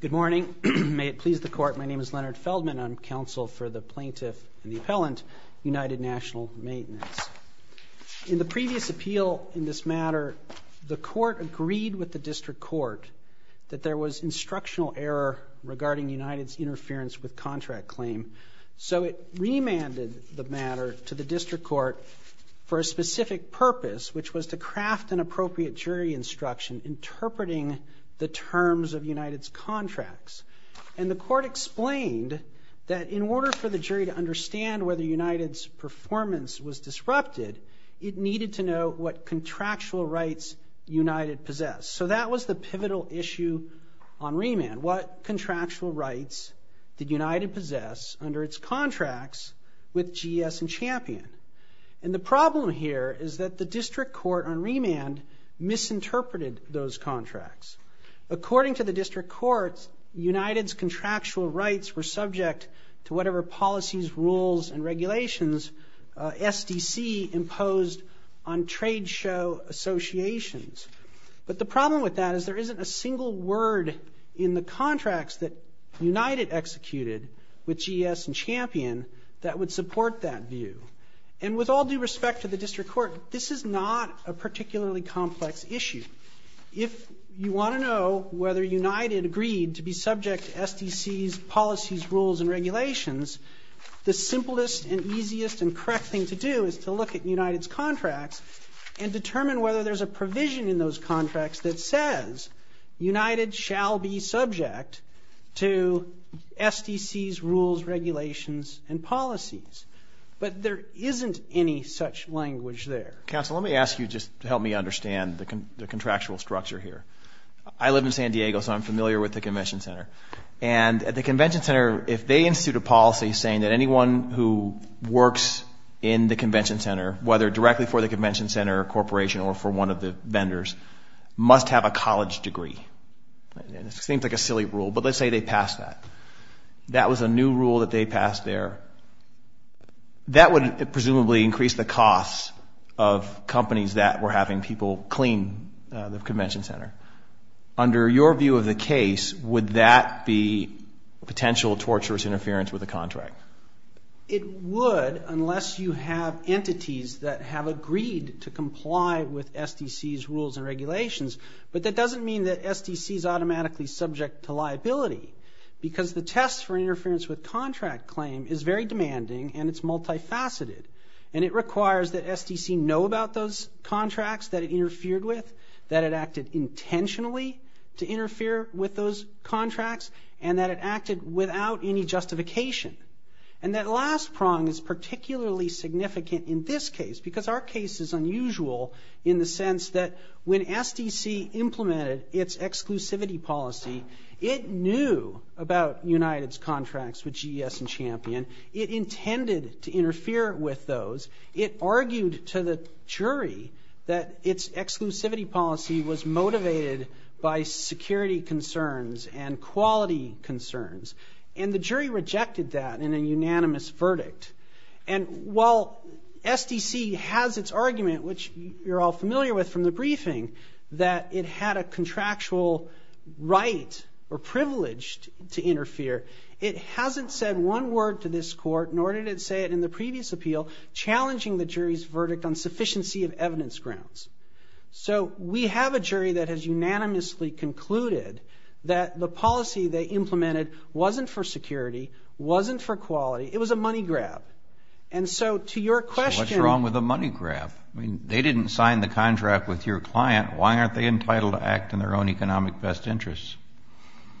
Good morning. May it please the court, my name is Leonard Feldman. I'm counsel for the plaintiff and the appellant, United National Maintenance. In the previous appeal in this matter, the court agreed with the district court that there was instructional error regarding United's interference with contract claim. So it remanded the matter to the district court for a specific purpose, which was to craft an appropriate jury instruction interpreting the terms of United's contracts. And the court explained that in order for the jury to understand whether United's performance was disrupted, it needed to know what contractual rights United possessed. So that was the pivotal issue on remand. What contractual rights did United possess under its contracts with GS and Champion? And the problem here is that the district court on remand misinterpreted those contracts. According to the district court, United's contractual rights were subject to whatever policies, rules, and regulations SDC imposed on trade show associations. But the problem with that is there isn't a single word in the contracts that United executed with GS and Champion that would support that view. And with all due respect to the district court, this is not a particularly complex issue. If you want to know whether United agreed to be subject to SDC's policies, rules, and regulations, the simplest and easiest and correct thing to do is to look at United's contracts and determine whether there's a provision in those contracts that says United shall be subject to SDC's rules, regulations, and policies. But there isn't any such language there. Counsel, let me ask you just to help me understand the contractual structure here. I live in San Diego, so I'm familiar with the convention center. And at the convention center, if they institute a policy saying that anyone who works in the convention center, whether directly for the convention center corporation or for one of the vendors, must have a college degree. And it seems like a silly rule, but let's say they pass that. That was a new rule that they passed there. That would presumably increase the costs of companies that were having people clean the convention center. Under your view of the case, would that be potential torturous interference with the contract? It would, unless you have entities that have agreed to comply with SDC's rules and regulations. But that doesn't mean that SDC's automatically subject to liability. Because the test for interference with contract claim is very demanding and it's multifaceted. And it requires that SDC know about those contracts that it interfered with, that it acted intentionally to interfere with those contracts, and that it acted without any justification. And that last prong is particularly significant in this case, because our case is unusual in the sense that when SDC implemented its exclusivity policy, it knew about United's contracts with GES and Champion. It intended to interfere with those. It argued to the jury that its exclusivity policy was motivated by security concerns and quality concerns. And the jury rejected that in a unanimous verdict. And while SDC has its argument, which you're all familiar with from the briefing, that it had a contractual right or privilege to interfere, it hasn't said one word to this court, nor did it say it in the previous appeal, challenging the jury's verdict on sufficiency of evidence grounds. So we have a jury that has unanimously concluded that the policy they implemented wasn't for security, wasn't for quality, it was a money grab. And so to your question- So what's wrong with a money grab? I mean, they didn't sign the contract with your client. Why aren't they entitled to act in their own economic best interests?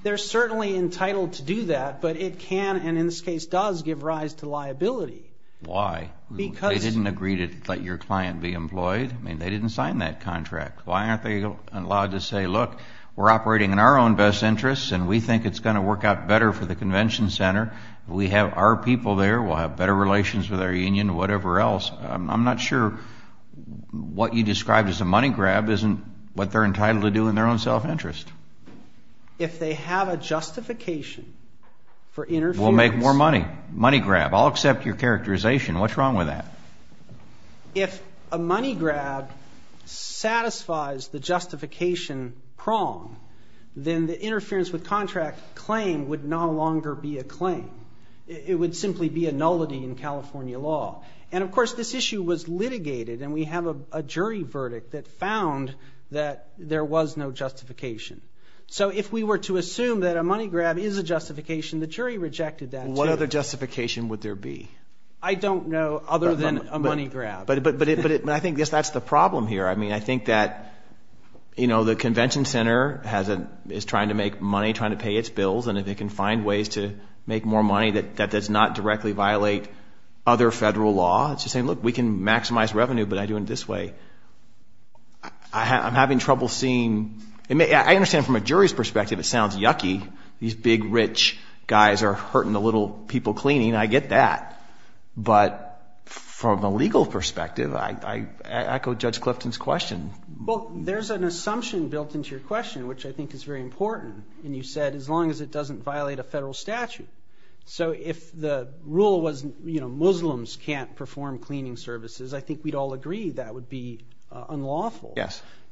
They're certainly entitled to do that, but it can, and in this case does, give rise to liability. Why? Because- They didn't agree to let your client be employed. I mean, they didn't sign that contract. Why aren't they allowed to say, look, we're operating in our own best interests and we think it's gonna work out better for the convention center. We have our people there, we'll have better relations with our union, whatever else. I'm not sure what you described as a money grab isn't what they're entitled to do in their own self-interest. If they have a justification for interference- We'll make more money, money grab. I'll accept your characterization. What's wrong with that? If a money grab satisfies the justification prong, then the interference with contract claim would no longer be a claim. It would simply be a nullity in California law. And of course, this issue was litigated and we have a jury verdict that found that there was no justification. So if we were to assume that a money grab is a justification, the jury rejected that too. What other justification would there be? I don't know, other than a money grab. But I think that's the problem here. I mean, I think that the convention center is trying to make money, trying to pay its bills, and if it can find ways to make more money, that does not directly violate other federal law. It's just saying, look, we can maximize revenue, but I do it this way. I'm having trouble seeing, I understand from a jury's perspective, it sounds yucky. These big, rich guys are hurting the little people cleaning, I get that. But from a legal perspective, I echo Judge Clifton's question. Well, there's an assumption built into your question, which I think is very important. And you said, as long as it doesn't violate a federal statute. So if the rule was, you know, Muslims can't perform cleaning services, I think we'd all agree that would be unlawful.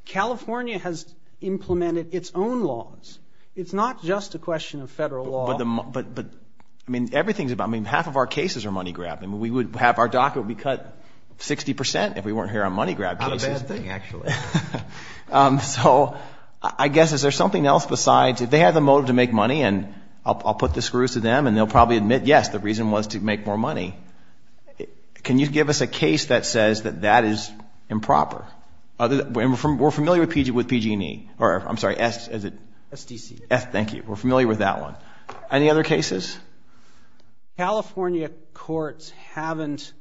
California has implemented its own laws. It's not just a question of federal law. But, I mean, everything's about, I mean, half of our cases are money grab. I mean, we would have, our docket would be cut 60% if we weren't here on money grab cases. Not a bad thing, actually. So I guess, is there something else besides, if they have the motive to make money, and I'll put the screws to them, and they'll probably admit, yes, the reason was to make more money. Can you give us a case that says that that is improper? Other than, we're familiar with PG&E. Or, I'm sorry, S, is it? SDC. S, thank you. We're familiar with that one. Any other cases? California courts haven't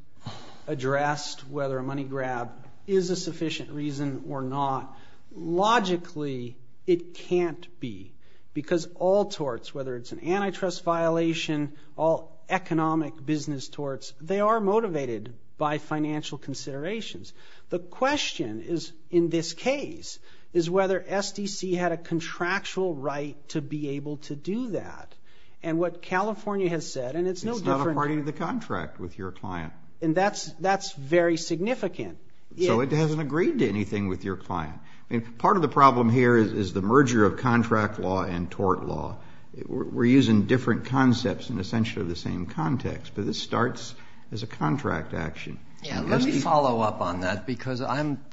addressed whether a money grab is a sufficient reason or not. Logically, it can't be. Because all torts, whether it's an antitrust violation, all economic business torts, they are motivated by financial considerations. The question is, in this case, is whether SDC had a contractual right to be able to do that. And what California has said, and it's no different. It's not a party to the contract with your client. And that's very significant. So it hasn't agreed to anything with your client. I mean, part of the problem here is the merger of contract law and tort law. We're using different concepts in essentially the same context. But this starts as a contract action. Yeah, let me follow up on that. Because I'm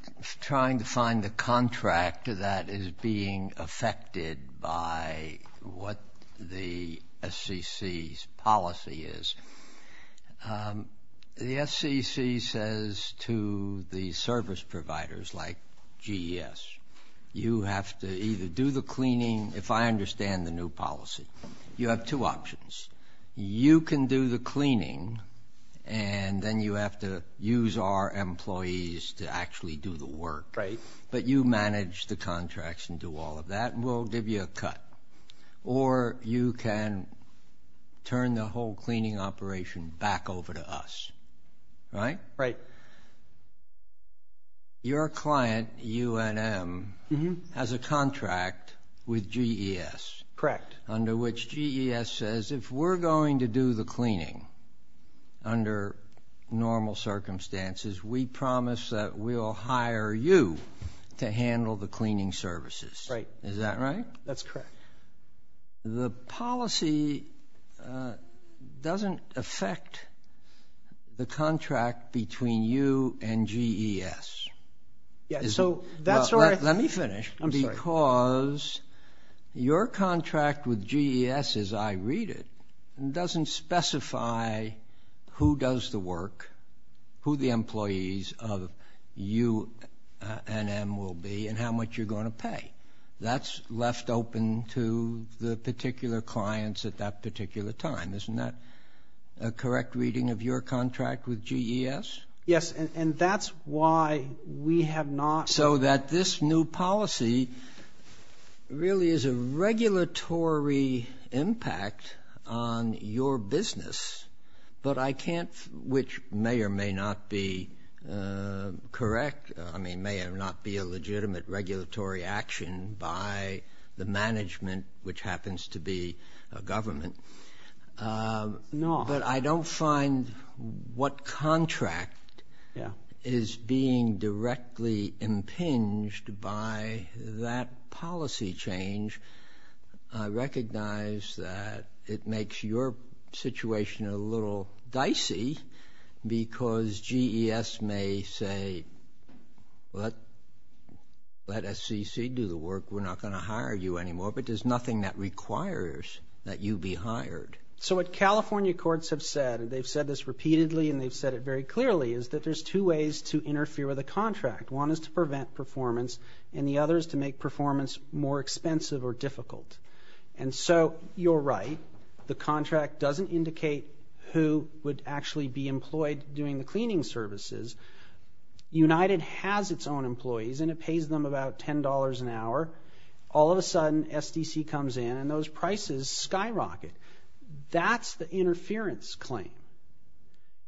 trying to find the contract that is being affected by what the SCC's policy is. The SCC says to the service providers, like GES, you have to either do the cleaning, if I understand the new policy. You have two options. You can do the cleaning, and then you have to use our employees to actually do the work. But you manage the contracts and do all of that, and we'll give you a cut. Or you can turn the whole cleaning operation back over to us, right? Right. So your client, UNM, has a contract with GES. Correct. Under which GES says, if we're going to do the cleaning under normal circumstances, we promise that we'll hire you to handle the cleaning services. Right. Is that right? That's correct. The policy doesn't affect the contract between you and GES. Yeah, so that's where I- Let me finish. I'm sorry. Because your contract with GES, as I read it, doesn't specify who does the work, who the employees of UNM will be, and how much you're going to pay. That's left open to the particular clients at that particular time. Isn't that a correct reading of your contract with GES? Yes, and that's why we have not- So that this new policy really is a regulatory impact on your business, but I can't, which may or may not be correct, may or may not be a legitimate regulatory action by the management, which happens to be a government, but I don't find what contract is being directly impinged by that policy change. I recognize that it makes your situation a little dicey because GES may say, well, let SCC do the work. We're not going to hire you anymore, but there's nothing that requires that you be hired. So what California courts have said, and they've said this repeatedly and they've said it very clearly, is that there's two ways to interfere with a contract. One is to prevent performance, and the other is to make performance more expensive or difficult. And so you're right. The contract doesn't indicate who would actually be employed doing the cleaning services. United has its own employees and it pays them about $10 an hour. All of a sudden, SDC comes in and those prices skyrocket. That's the interference claim.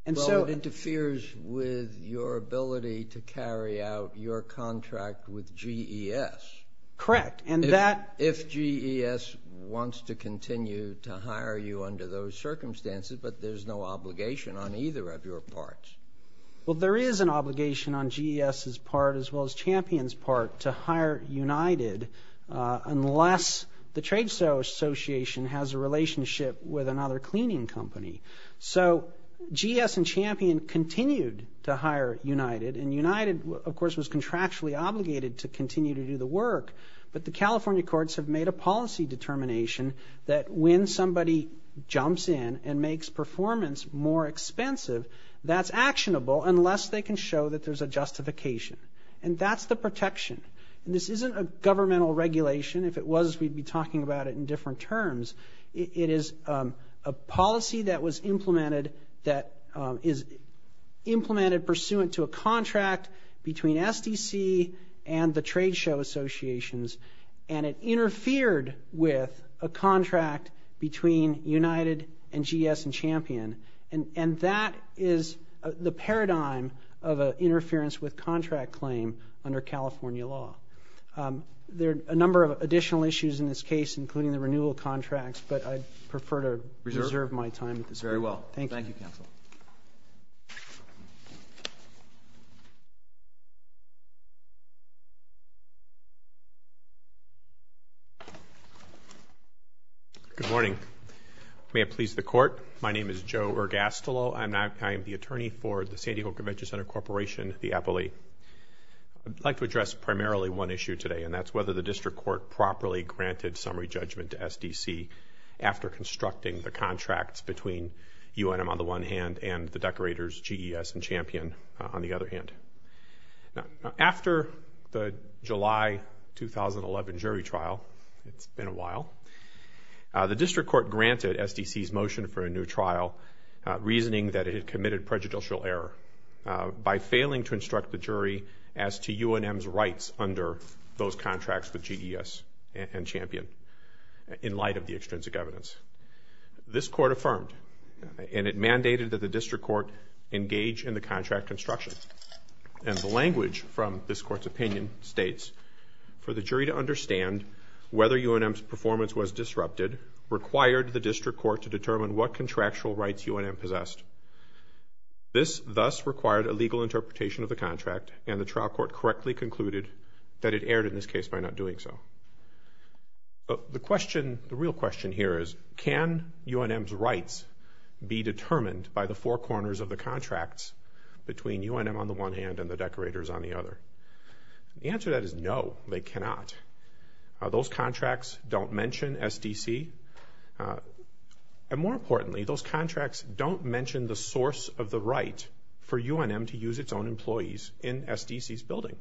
And so- Well, it interferes with your ability to carry out your contract with GES. Correct, and that- If GES wants to continue to hire you under those circumstances, but there's no obligation on either of your parts. Well, there is an obligation on GES's part as well as Champion's part to hire United unless the trade association has a relationship with another cleaning company. So GES and Champion continued to hire United and United, of course, was contractually obligated to continue to do the work. But the California courts have made a policy determination that when somebody jumps in and makes performance more expensive, that's actionable unless they can show that there's a justification. And that's the protection. And this isn't a governmental regulation. If it was, we'd be talking about it in different terms. It is a policy that was implemented that is implemented pursuant to a contract between SDC and the trade show associations. And it interfered with a contract between United and GES and Champion. And that is the paradigm of a interference with contract claim under California law. There are a number of additional issues in this case, including the renewal contracts, but I prefer to reserve my time at this point. Very well. Thank you. Thank you, counsel. Good morning. May it please the court. My name is Joe Ergastolo. I am the attorney for the San Diego Convention Center Corporation, the EPOLE. I'd like to address primarily one issue today, and that's whether the district court properly granted summary judgment to SDC after constructing the contracts between UNM on the one hand and the decorators, GES and Champion, on the other hand. After the July 2011 jury trial, it's been a while, the district court granted SDC's motion for a new trial, reasoning that it had committed prejudicial error. By failing to instruct the jury as to UNM's rights under those contracts with GES and Champion, in light of the extrinsic evidence. This court affirmed, and it mandated that the district court engage in the contract construction. And the language from this court's opinion states, for the jury to understand whether UNM's performance was disrupted required the district court to determine what contractual rights UNM possessed. This thus required a legal interpretation of the contract, and the trial court correctly concluded that it erred in this case by not doing so. The question, the real question here is, can UNM's rights be determined by the four corners of the contracts between UNM on the one hand and the decorators on the other? The answer to that is no, they cannot. Those contracts don't mention SDC. And more importantly, those contracts don't mention the source of the right for UNM to use its own employees in SDC's building.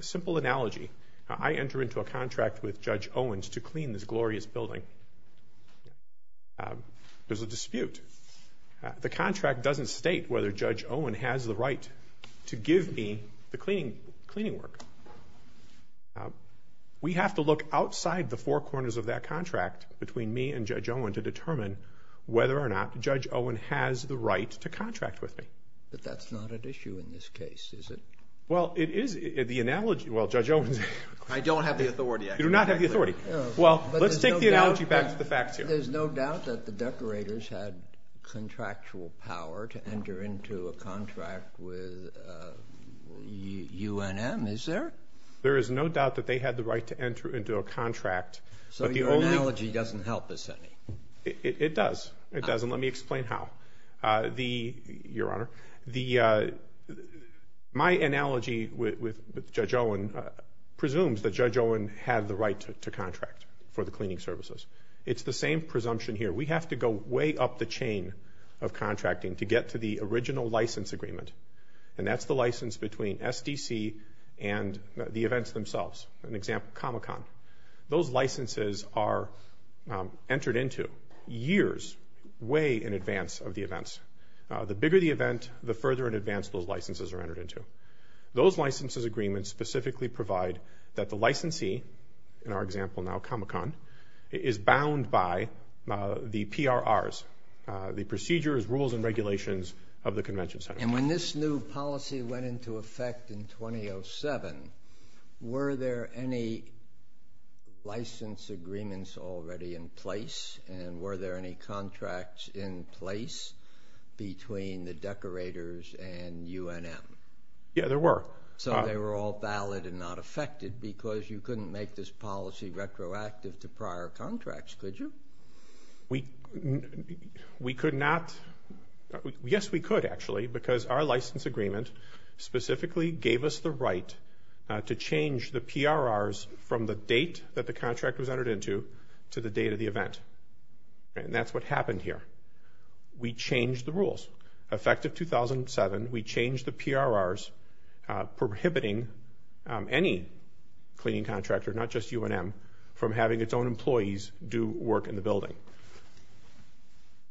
Simple analogy, I enter into a contract with Judge Owens to clean this glorious building. There's a dispute. The contract doesn't state whether Judge Owen has the right to give me the cleaning work. We have to look outside the four corners of that contract between me and Judge Owen to determine whether or not Judge Owen has the right to contract with me. But that's not an issue in this case, is it? Well, it is, the analogy, well, Judge Owens. I don't have the authority. You do not have the authority. Well, let's take the analogy back to the facts here. There's no doubt that the decorators had contractual power to enter into a contract with UNM, is there? There is no doubt that they had the right to enter into a contract. So your analogy doesn't help us any? It does, it does, and let me explain how. Your Honor, my analogy with Judge Owen presumes that Judge Owen had the right to contract for the cleaning services. It's the same presumption here. We have to go way up the chain of contracting to get to the original license agreement, and that's the license between SDC and the events themselves. An example, Comic-Con. Those licenses are entered into years way in advance of the events. The bigger the event, the further in advance those licenses are entered into. Those licenses agreements specifically provide that the licensee, in our example now Comic-Con, is bound by the PRRs, the procedures, rules, and regulations of the Convention Center. And when this new policy went into effect in 2007, were there any license agreements already in place, and were there any contracts in place between the decorators and UNM? Yeah, there were. So they were all valid and not affected because you couldn't make this policy retroactive to prior contracts, could you? We could not, yes we could actually, because our license agreement specifically gave us the right to change the PRRs from the date that the contract was entered into to the date of the event. And that's what happened here. We changed the rules. Effective 2007, we changed the PRRs prohibiting any cleaning contractor, not just UNM, from having its own employees do work in the building.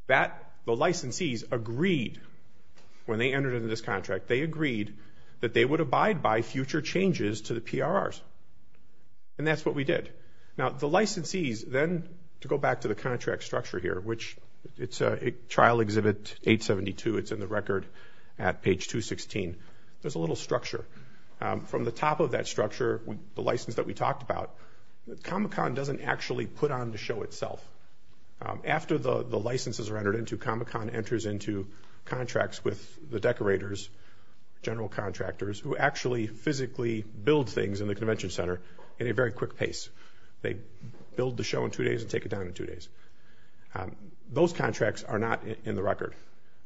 The licensees agreed, when they entered into this contract, they agreed that they would abide by future changes to the PRRs, and that's what we did. Now the licensees, then, to go back to the contract structure here, which it's a trial exhibit 872, it's in the record at page 216, there's a little structure. From the top of that structure, the license that we talked about, Comic-Con doesn't actually put on the show itself. After the licenses are entered into, contracts with the decorators, general contractors, who actually physically build things in the convention center at a very quick pace. They build the show in two days and take it down in two days. Those contracts are not in the record.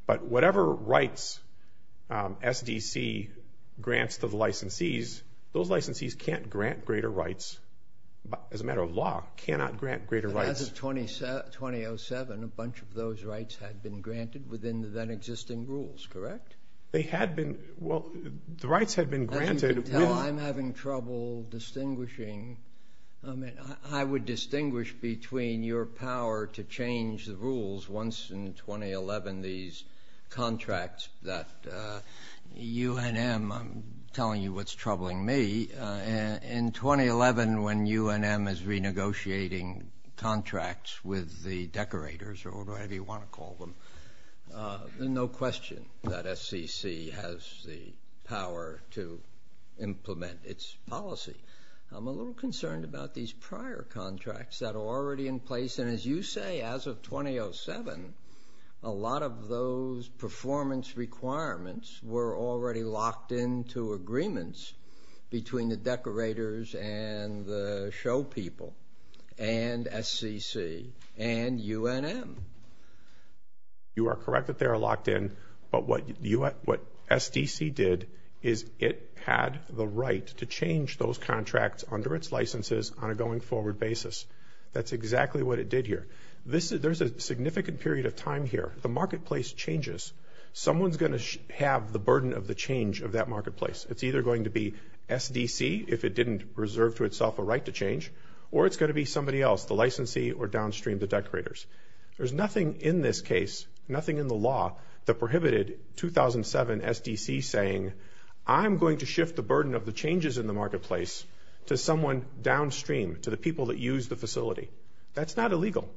But whatever rights SDC grants to the licensees, those licensees can't grant greater rights, as a matter of law, cannot grant greater rights. As of 2007, a bunch of those rights had been granted within the then existing rules, correct? They had been, well, the rights had been granted. As you can tell, I'm having trouble distinguishing. I mean, I would distinguish between your power to change the rules once in 2011, these contracts that UNM, I'm telling you what's troubling me, in 2011, when UNM is renegotiating contracts with the decorators, or whatever you want to call them, no question that SCC has the power to implement its policy. I'm a little concerned about these prior contracts that are already in place. And as you say, as of 2007, a lot of those performance requirements were already locked into agreements between the decorators and the show people, and SCC, and UNM. You are correct that they are locked in, but what SDC did is it had the right to change those contracts under its licenses on a going forward basis. That's exactly what it did here. There's a significant period of time here. The marketplace changes. Someone's gonna have the burden of the change of that marketplace. It's either going to be SDC, if it didn't reserve to itself a right to change, or it's gonna be somebody else, the licensee or downstream, the decorators. There's nothing in this case, nothing in the law that prohibited 2007 SDC saying, I'm going to shift the burden of the changes in the marketplace to someone downstream, to the people that use the facility. That's not illegal.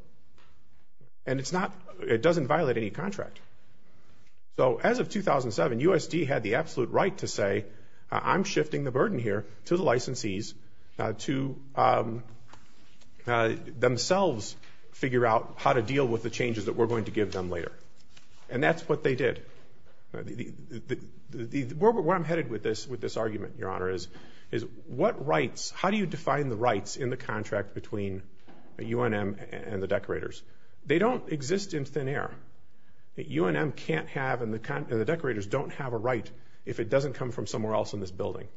And it doesn't violate any contract. So as of 2007, USD had the absolute right to say, I'm shifting the burden here to the licensees to themselves figure out how to deal with the changes that we're going to give them later. And that's what they did. Where I'm headed with this argument, Your Honor, is what rights, how do you define the rights in the contract between UNM and the decorators? They don't exist in thin air. UNM can't have, and the decorators don't have a right, if it doesn't come from somewhere else in this building.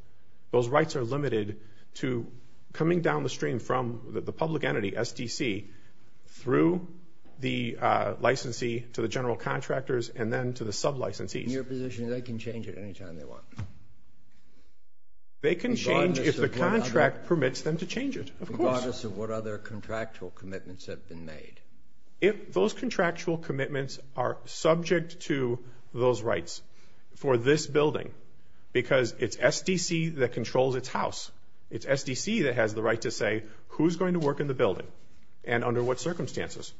Those rights are limited to coming down the stream from the public entity, SDC, through the licensee to the general contractors, and then to the sub-licensees. In your position, they can change it anytime they want. They can change if the contract permits them to change it. Of course. Regardless of what other contractual commitments have been made. If those contractual commitments are subject to those rights for this building, because it's SDC that controls its house, it's SDC that has the right to say who's going to work in the building and under what circumstances.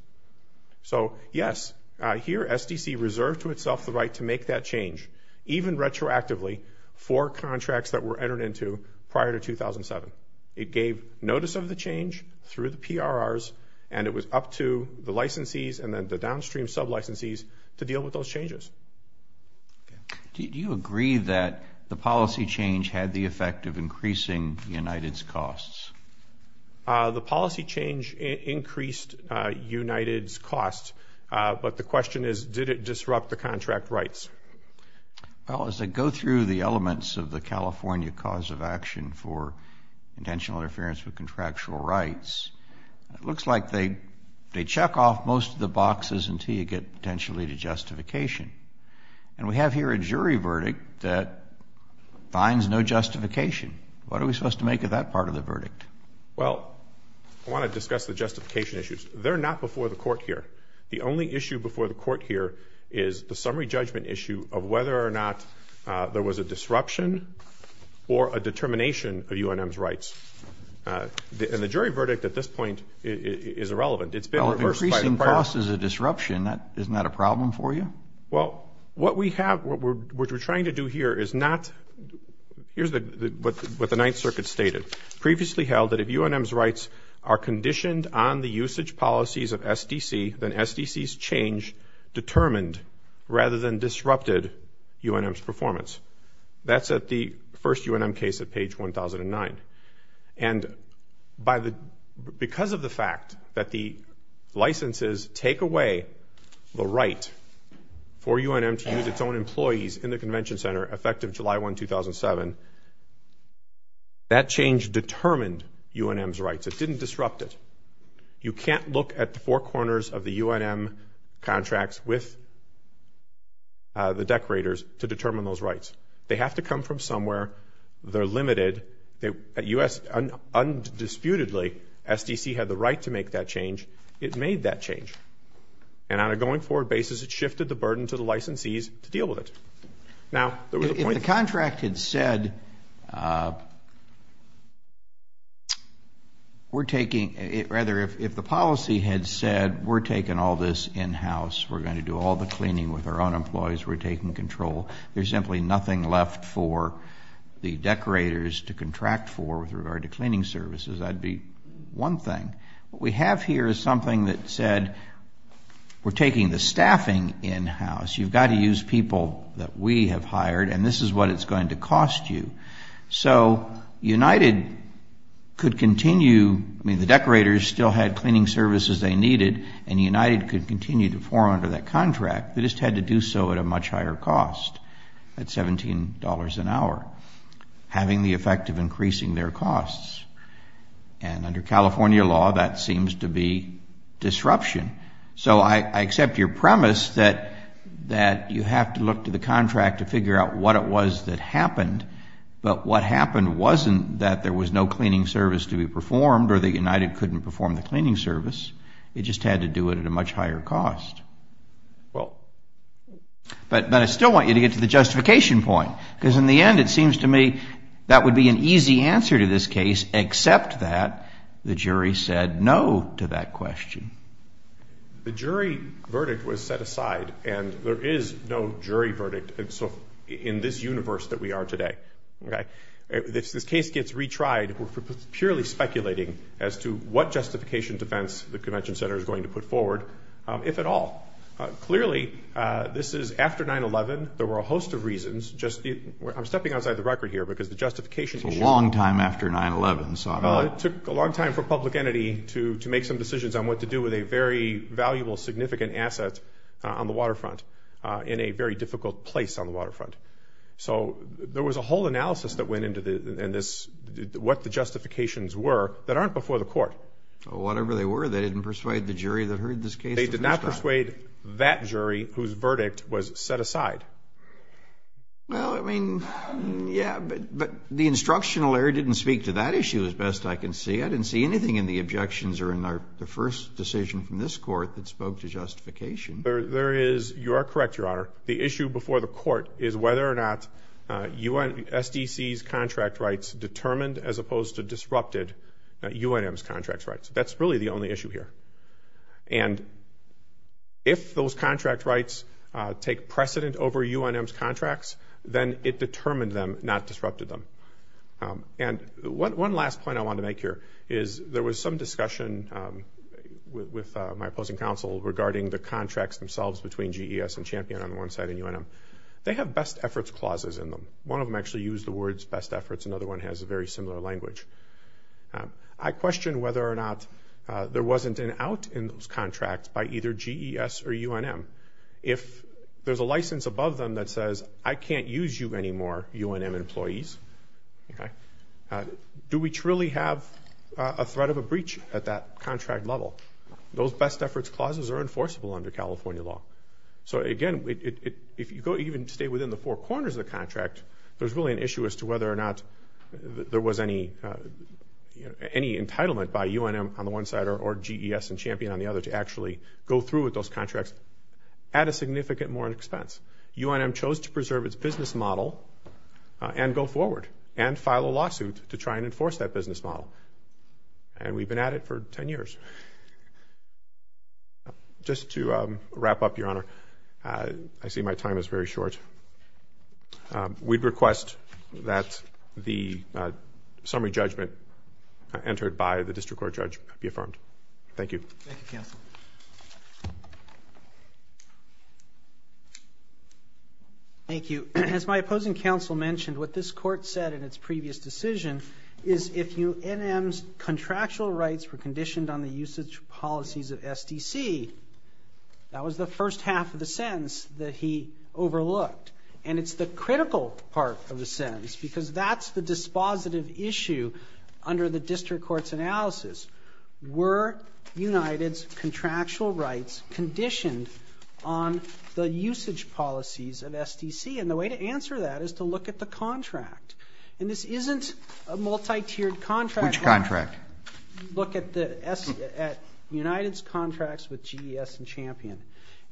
So yes, here SDC reserved to itself the right to make that change, even retroactively, for contracts that were entered into prior to 2007. It gave notice of the change through the PRRs, and it was up to the licensees and then the downstream sub-licensees to deal with those changes. Do you agree that the policy change had the effect of increasing United's costs? The policy change increased United's costs, but the question is, did it disrupt the contract rights? Well, as I go through the elements of the California Cause of Action for Intentional Interference with Contractual Rights, it looks like they check off most of the boxes until you get potentially to justification. And we have here a jury verdict that finds no justification. What are we supposed to make of that part of the verdict? Well, I want to discuss the justification issues. They're not before the court here. The only issue before the court here is the summary judgment issue of whether or not there was a disruption or a determination of UNM's rights. And the jury verdict at this point is irrelevant. It's been reversed by the PRRs. Well, if increasing costs is a disruption, isn't that a problem for you? Well, what we have, what we're trying to do here is not, here's what the Ninth Circuit stated, previously held that if UNM's rights are conditioned on the usage policies of SDC, then SDC's change determined rather than disrupted UNM's performance. That's at the first UNM case at page 1009. And because of the fact that the licenses take away the right for UNM to use its own employees in the convention center effective July 1, 2007, that change determined UNM's rights. It didn't disrupt it. You can't look at the four corners of the UNM contracts with the decorators to determine those rights. They have to come from somewhere. They're limited. At US, undisputedly, SDC had the right to make that change. It made that change. And on a going forward basis, it shifted the burden to the licensees to deal with it. Now, there was a point- If the contract had said, we're taking, rather, if the policy had said, we're taking all this in-house, we're going to do all the cleaning with our own employees, we're taking control, there's simply nothing left for the decorators to contract for with regard to cleaning services, that'd be one thing. What we have here is something that said, we're taking the staffing in-house, you've got to use people that we have hired, and this is what it's going to cost you. So, United could continue- I mean, the decorators still had cleaning services they needed, and United could continue to form under that contract. They just had to do so at a much higher cost, at $17 an hour, having the effect of increasing their costs. And under California law, that seems to be disruption. So, I accept your premise that you have to look to the contract to figure out what it was that happened, but what happened wasn't that there was no cleaning service to be performed, or that United couldn't perform the cleaning service, it just had to do it at a much higher cost. But I still want you to get to the justification point, because in the end, it seems to me that would be an easy answer to this case, except that the jury said no to that question. The jury verdict was set aside, and there is no jury verdict in this universe that we are today. If this case gets retried, we're purely speculating as to what justification defense the convention center is going to put forward, if at all. Clearly, this is after 9-11, there were a host of reasons, just, I'm stepping outside the record here, because the justification issue. It's a long time after 9-11, so I'm not. It took a long time for a public entity to make some decisions on what to do with a very valuable, significant asset on the waterfront, in a very difficult place on the waterfront. So, there was a whole analysis that went into this, what the justifications were, that aren't before the court. Whatever they were, they didn't persuade the jury that heard this case the first time. They did not persuade that jury, whose verdict was set aside. Well, I mean, yeah, but the instructional error didn't speak to that issue, as best I can see. I didn't see anything in the objections, or in the first decision from this court, that spoke to justification. There is, you are correct, your honor, the issue before the court is whether or not SDC's contract rights determined, as opposed to disrupted, UNM's contract rights. That's really the only issue here. And if those contract rights take precedent over UNM's contracts, then it determined them, not disrupted them. And one last point I want to make here, is there was some discussion with my opposing counsel regarding the contracts themselves between GES and Champion on one side and UNM. They have best efforts clauses in them. One of them actually used the words best efforts, another one has a very similar language. I question whether or not there wasn't an out in those contracts by either GES or UNM. If there's a license above them that says, I can't use you anymore, UNM employees, do we truly have a threat of a breach at that contract level? Those best efforts clauses are enforceable under California law. So again, if you go even stay within the four corners of the contract, there's really an issue as to whether or not there was any entitlement by UNM on the one side or GES and Champion on the other to actually go through with those contracts at a significant more expense. UNM chose to preserve its business model and go forward and file a lawsuit to try and enforce that business model. And we've been at it for 10 years. Just to wrap up, Your Honor, I see my time is very short. We'd request that the summary judgment entered by the district court judge be affirmed. Thank you. Thank you, counsel. Thank you. As my opposing counsel mentioned, what this court said in its previous decision is if UNM's contractual rights were conditioned on the usage policies of SDC, that was the first half of the sentence that he overlooked. And it's the critical part of the sentence because that's the dispositive issue under the district court's analysis. Were United's contractual rights conditioned on the usage policies of SDC? And the way to answer that is to look at the contract. And this isn't a multi-tiered contract. Which contract? Look at United's contracts with GES and Champion.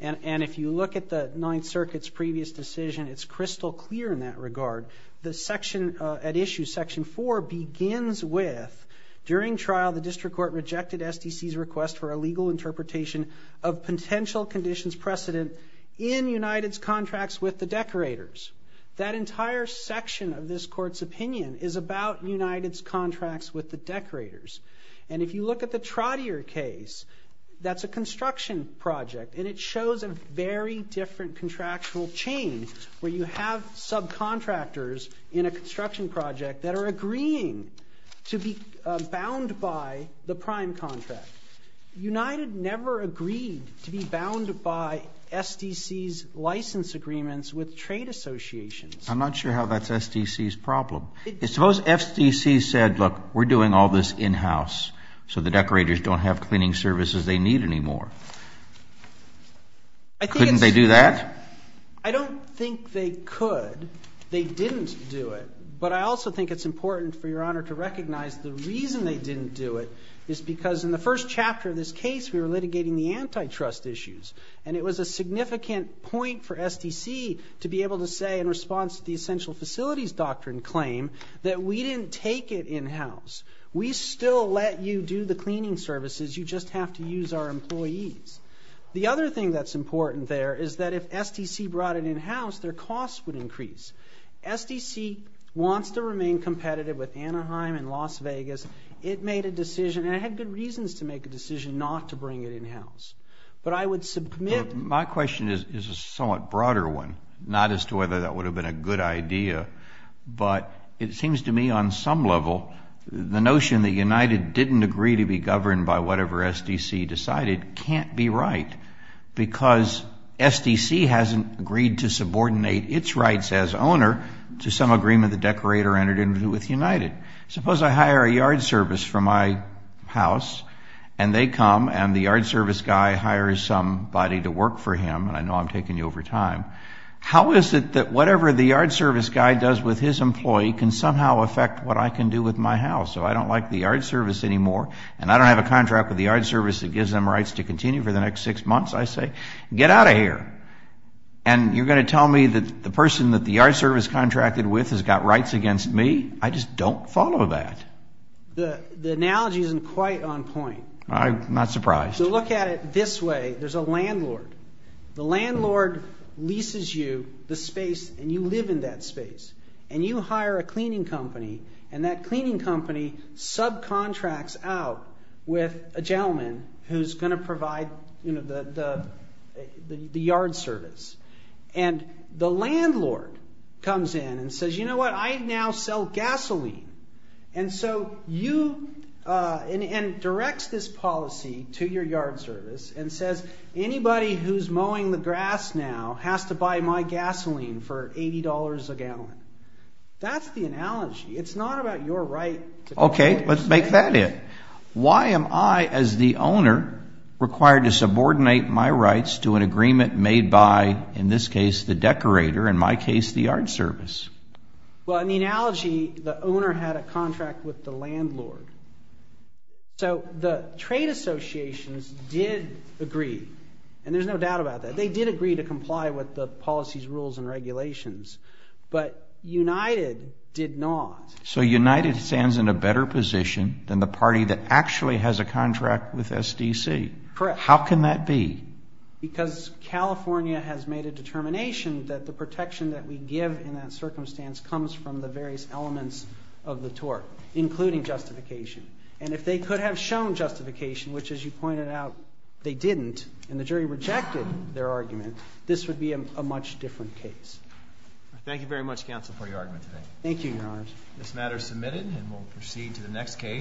And if you look at the Ninth Circuit's previous decision, it's crystal clear in that regard. The section at issue, section four, begins with during trial the district court rejected SDC's request for a legal interpretation of potential conditions precedent in United's contracts with the decorators. That entire section of this court's opinion is about United's contracts with the decorators. And if you look at the Trottier case, that's a construction project. And it shows a very different contractual chain where you have subcontractors in a construction project that are agreeing to be bound by the prime contract. United never agreed to be bound by SDC's license agreements with trade associations. I'm not sure how that's SDC's problem. Suppose SDC said, look, we're doing all this in-house so the decorators don't have cleaning services they need anymore. Couldn't they do that? I don't think they could. They didn't do it. But I also think it's important for your honor to recognize the reason they didn't do it is because in the first chapter of this case, we were litigating the antitrust issues. And it was a significant point for SDC to be able to say in response to the essential facilities doctrine claim that we didn't take it in-house. We still let you do the cleaning services. You just have to use our employees. The other thing that's important there is that if SDC brought it in-house, their costs would increase. SDC wants to remain competitive with Anaheim and Las Vegas. It made a decision, and it had good reasons to make a decision not to bring it in-house. But I would submit- My question is a somewhat broader one, not as to whether that would have been a good idea. But it seems to me on some level, the notion that United didn't agree to be governed by whatever SDC decided can't be right. Because SDC hasn't agreed to subordinate its rights as owner to some agreement the decorator entered into with United. Suppose I hire a yard service for my house, and they come, and the yard service guy hires somebody to work for him, and I know I'm taking you over time. How is it that whatever the yard service guy does with his employee can somehow affect what I can do with my house? So I don't like the yard service anymore, and I don't have a contract with the yard service that gives them rights to continue for the next six months. I say, get out of here. And you're gonna tell me that the person that the yard service contracted with has got rights against me? I just don't follow that. The analogy isn't quite on point. I'm not surprised. So look at it this way. There's a landlord. The landlord leases you the space, and you live in that space. And you hire a cleaning company, and that cleaning company subcontracts out with a gentleman who's gonna provide the yard service. And the landlord comes in and says, you know what, I now sell gasoline. And so you, and directs this policy to your yard service, and says, anybody who's mowing the grass now has to buy my gasoline for $80 a gallon. That's the analogy. It's not about your right. Okay, let's make that it. Why am I, as the owner, required to subordinate my rights to an agreement made by, in this case, the decorator, in my case, the yard service? Well, in the analogy, the owner had a contract with the landlord. So the trade associations did agree, and there's no doubt about that. They did agree to comply with the policies, rules, and regulations. But United did not. So United stands in a better position than the party that actually has a contract with SDC. Correct. How can that be? Because California has made a determination that the protection that we give in that circumstance comes from the various elements of the tort, including justification. And if they could have shown justification, which, as you pointed out, they didn't, and the jury rejected their argument, this would be a much different case. Thank you very much, counsel, for your argument today. Thank you, Your Honors. This matter is submitted, and we'll proceed to the next case.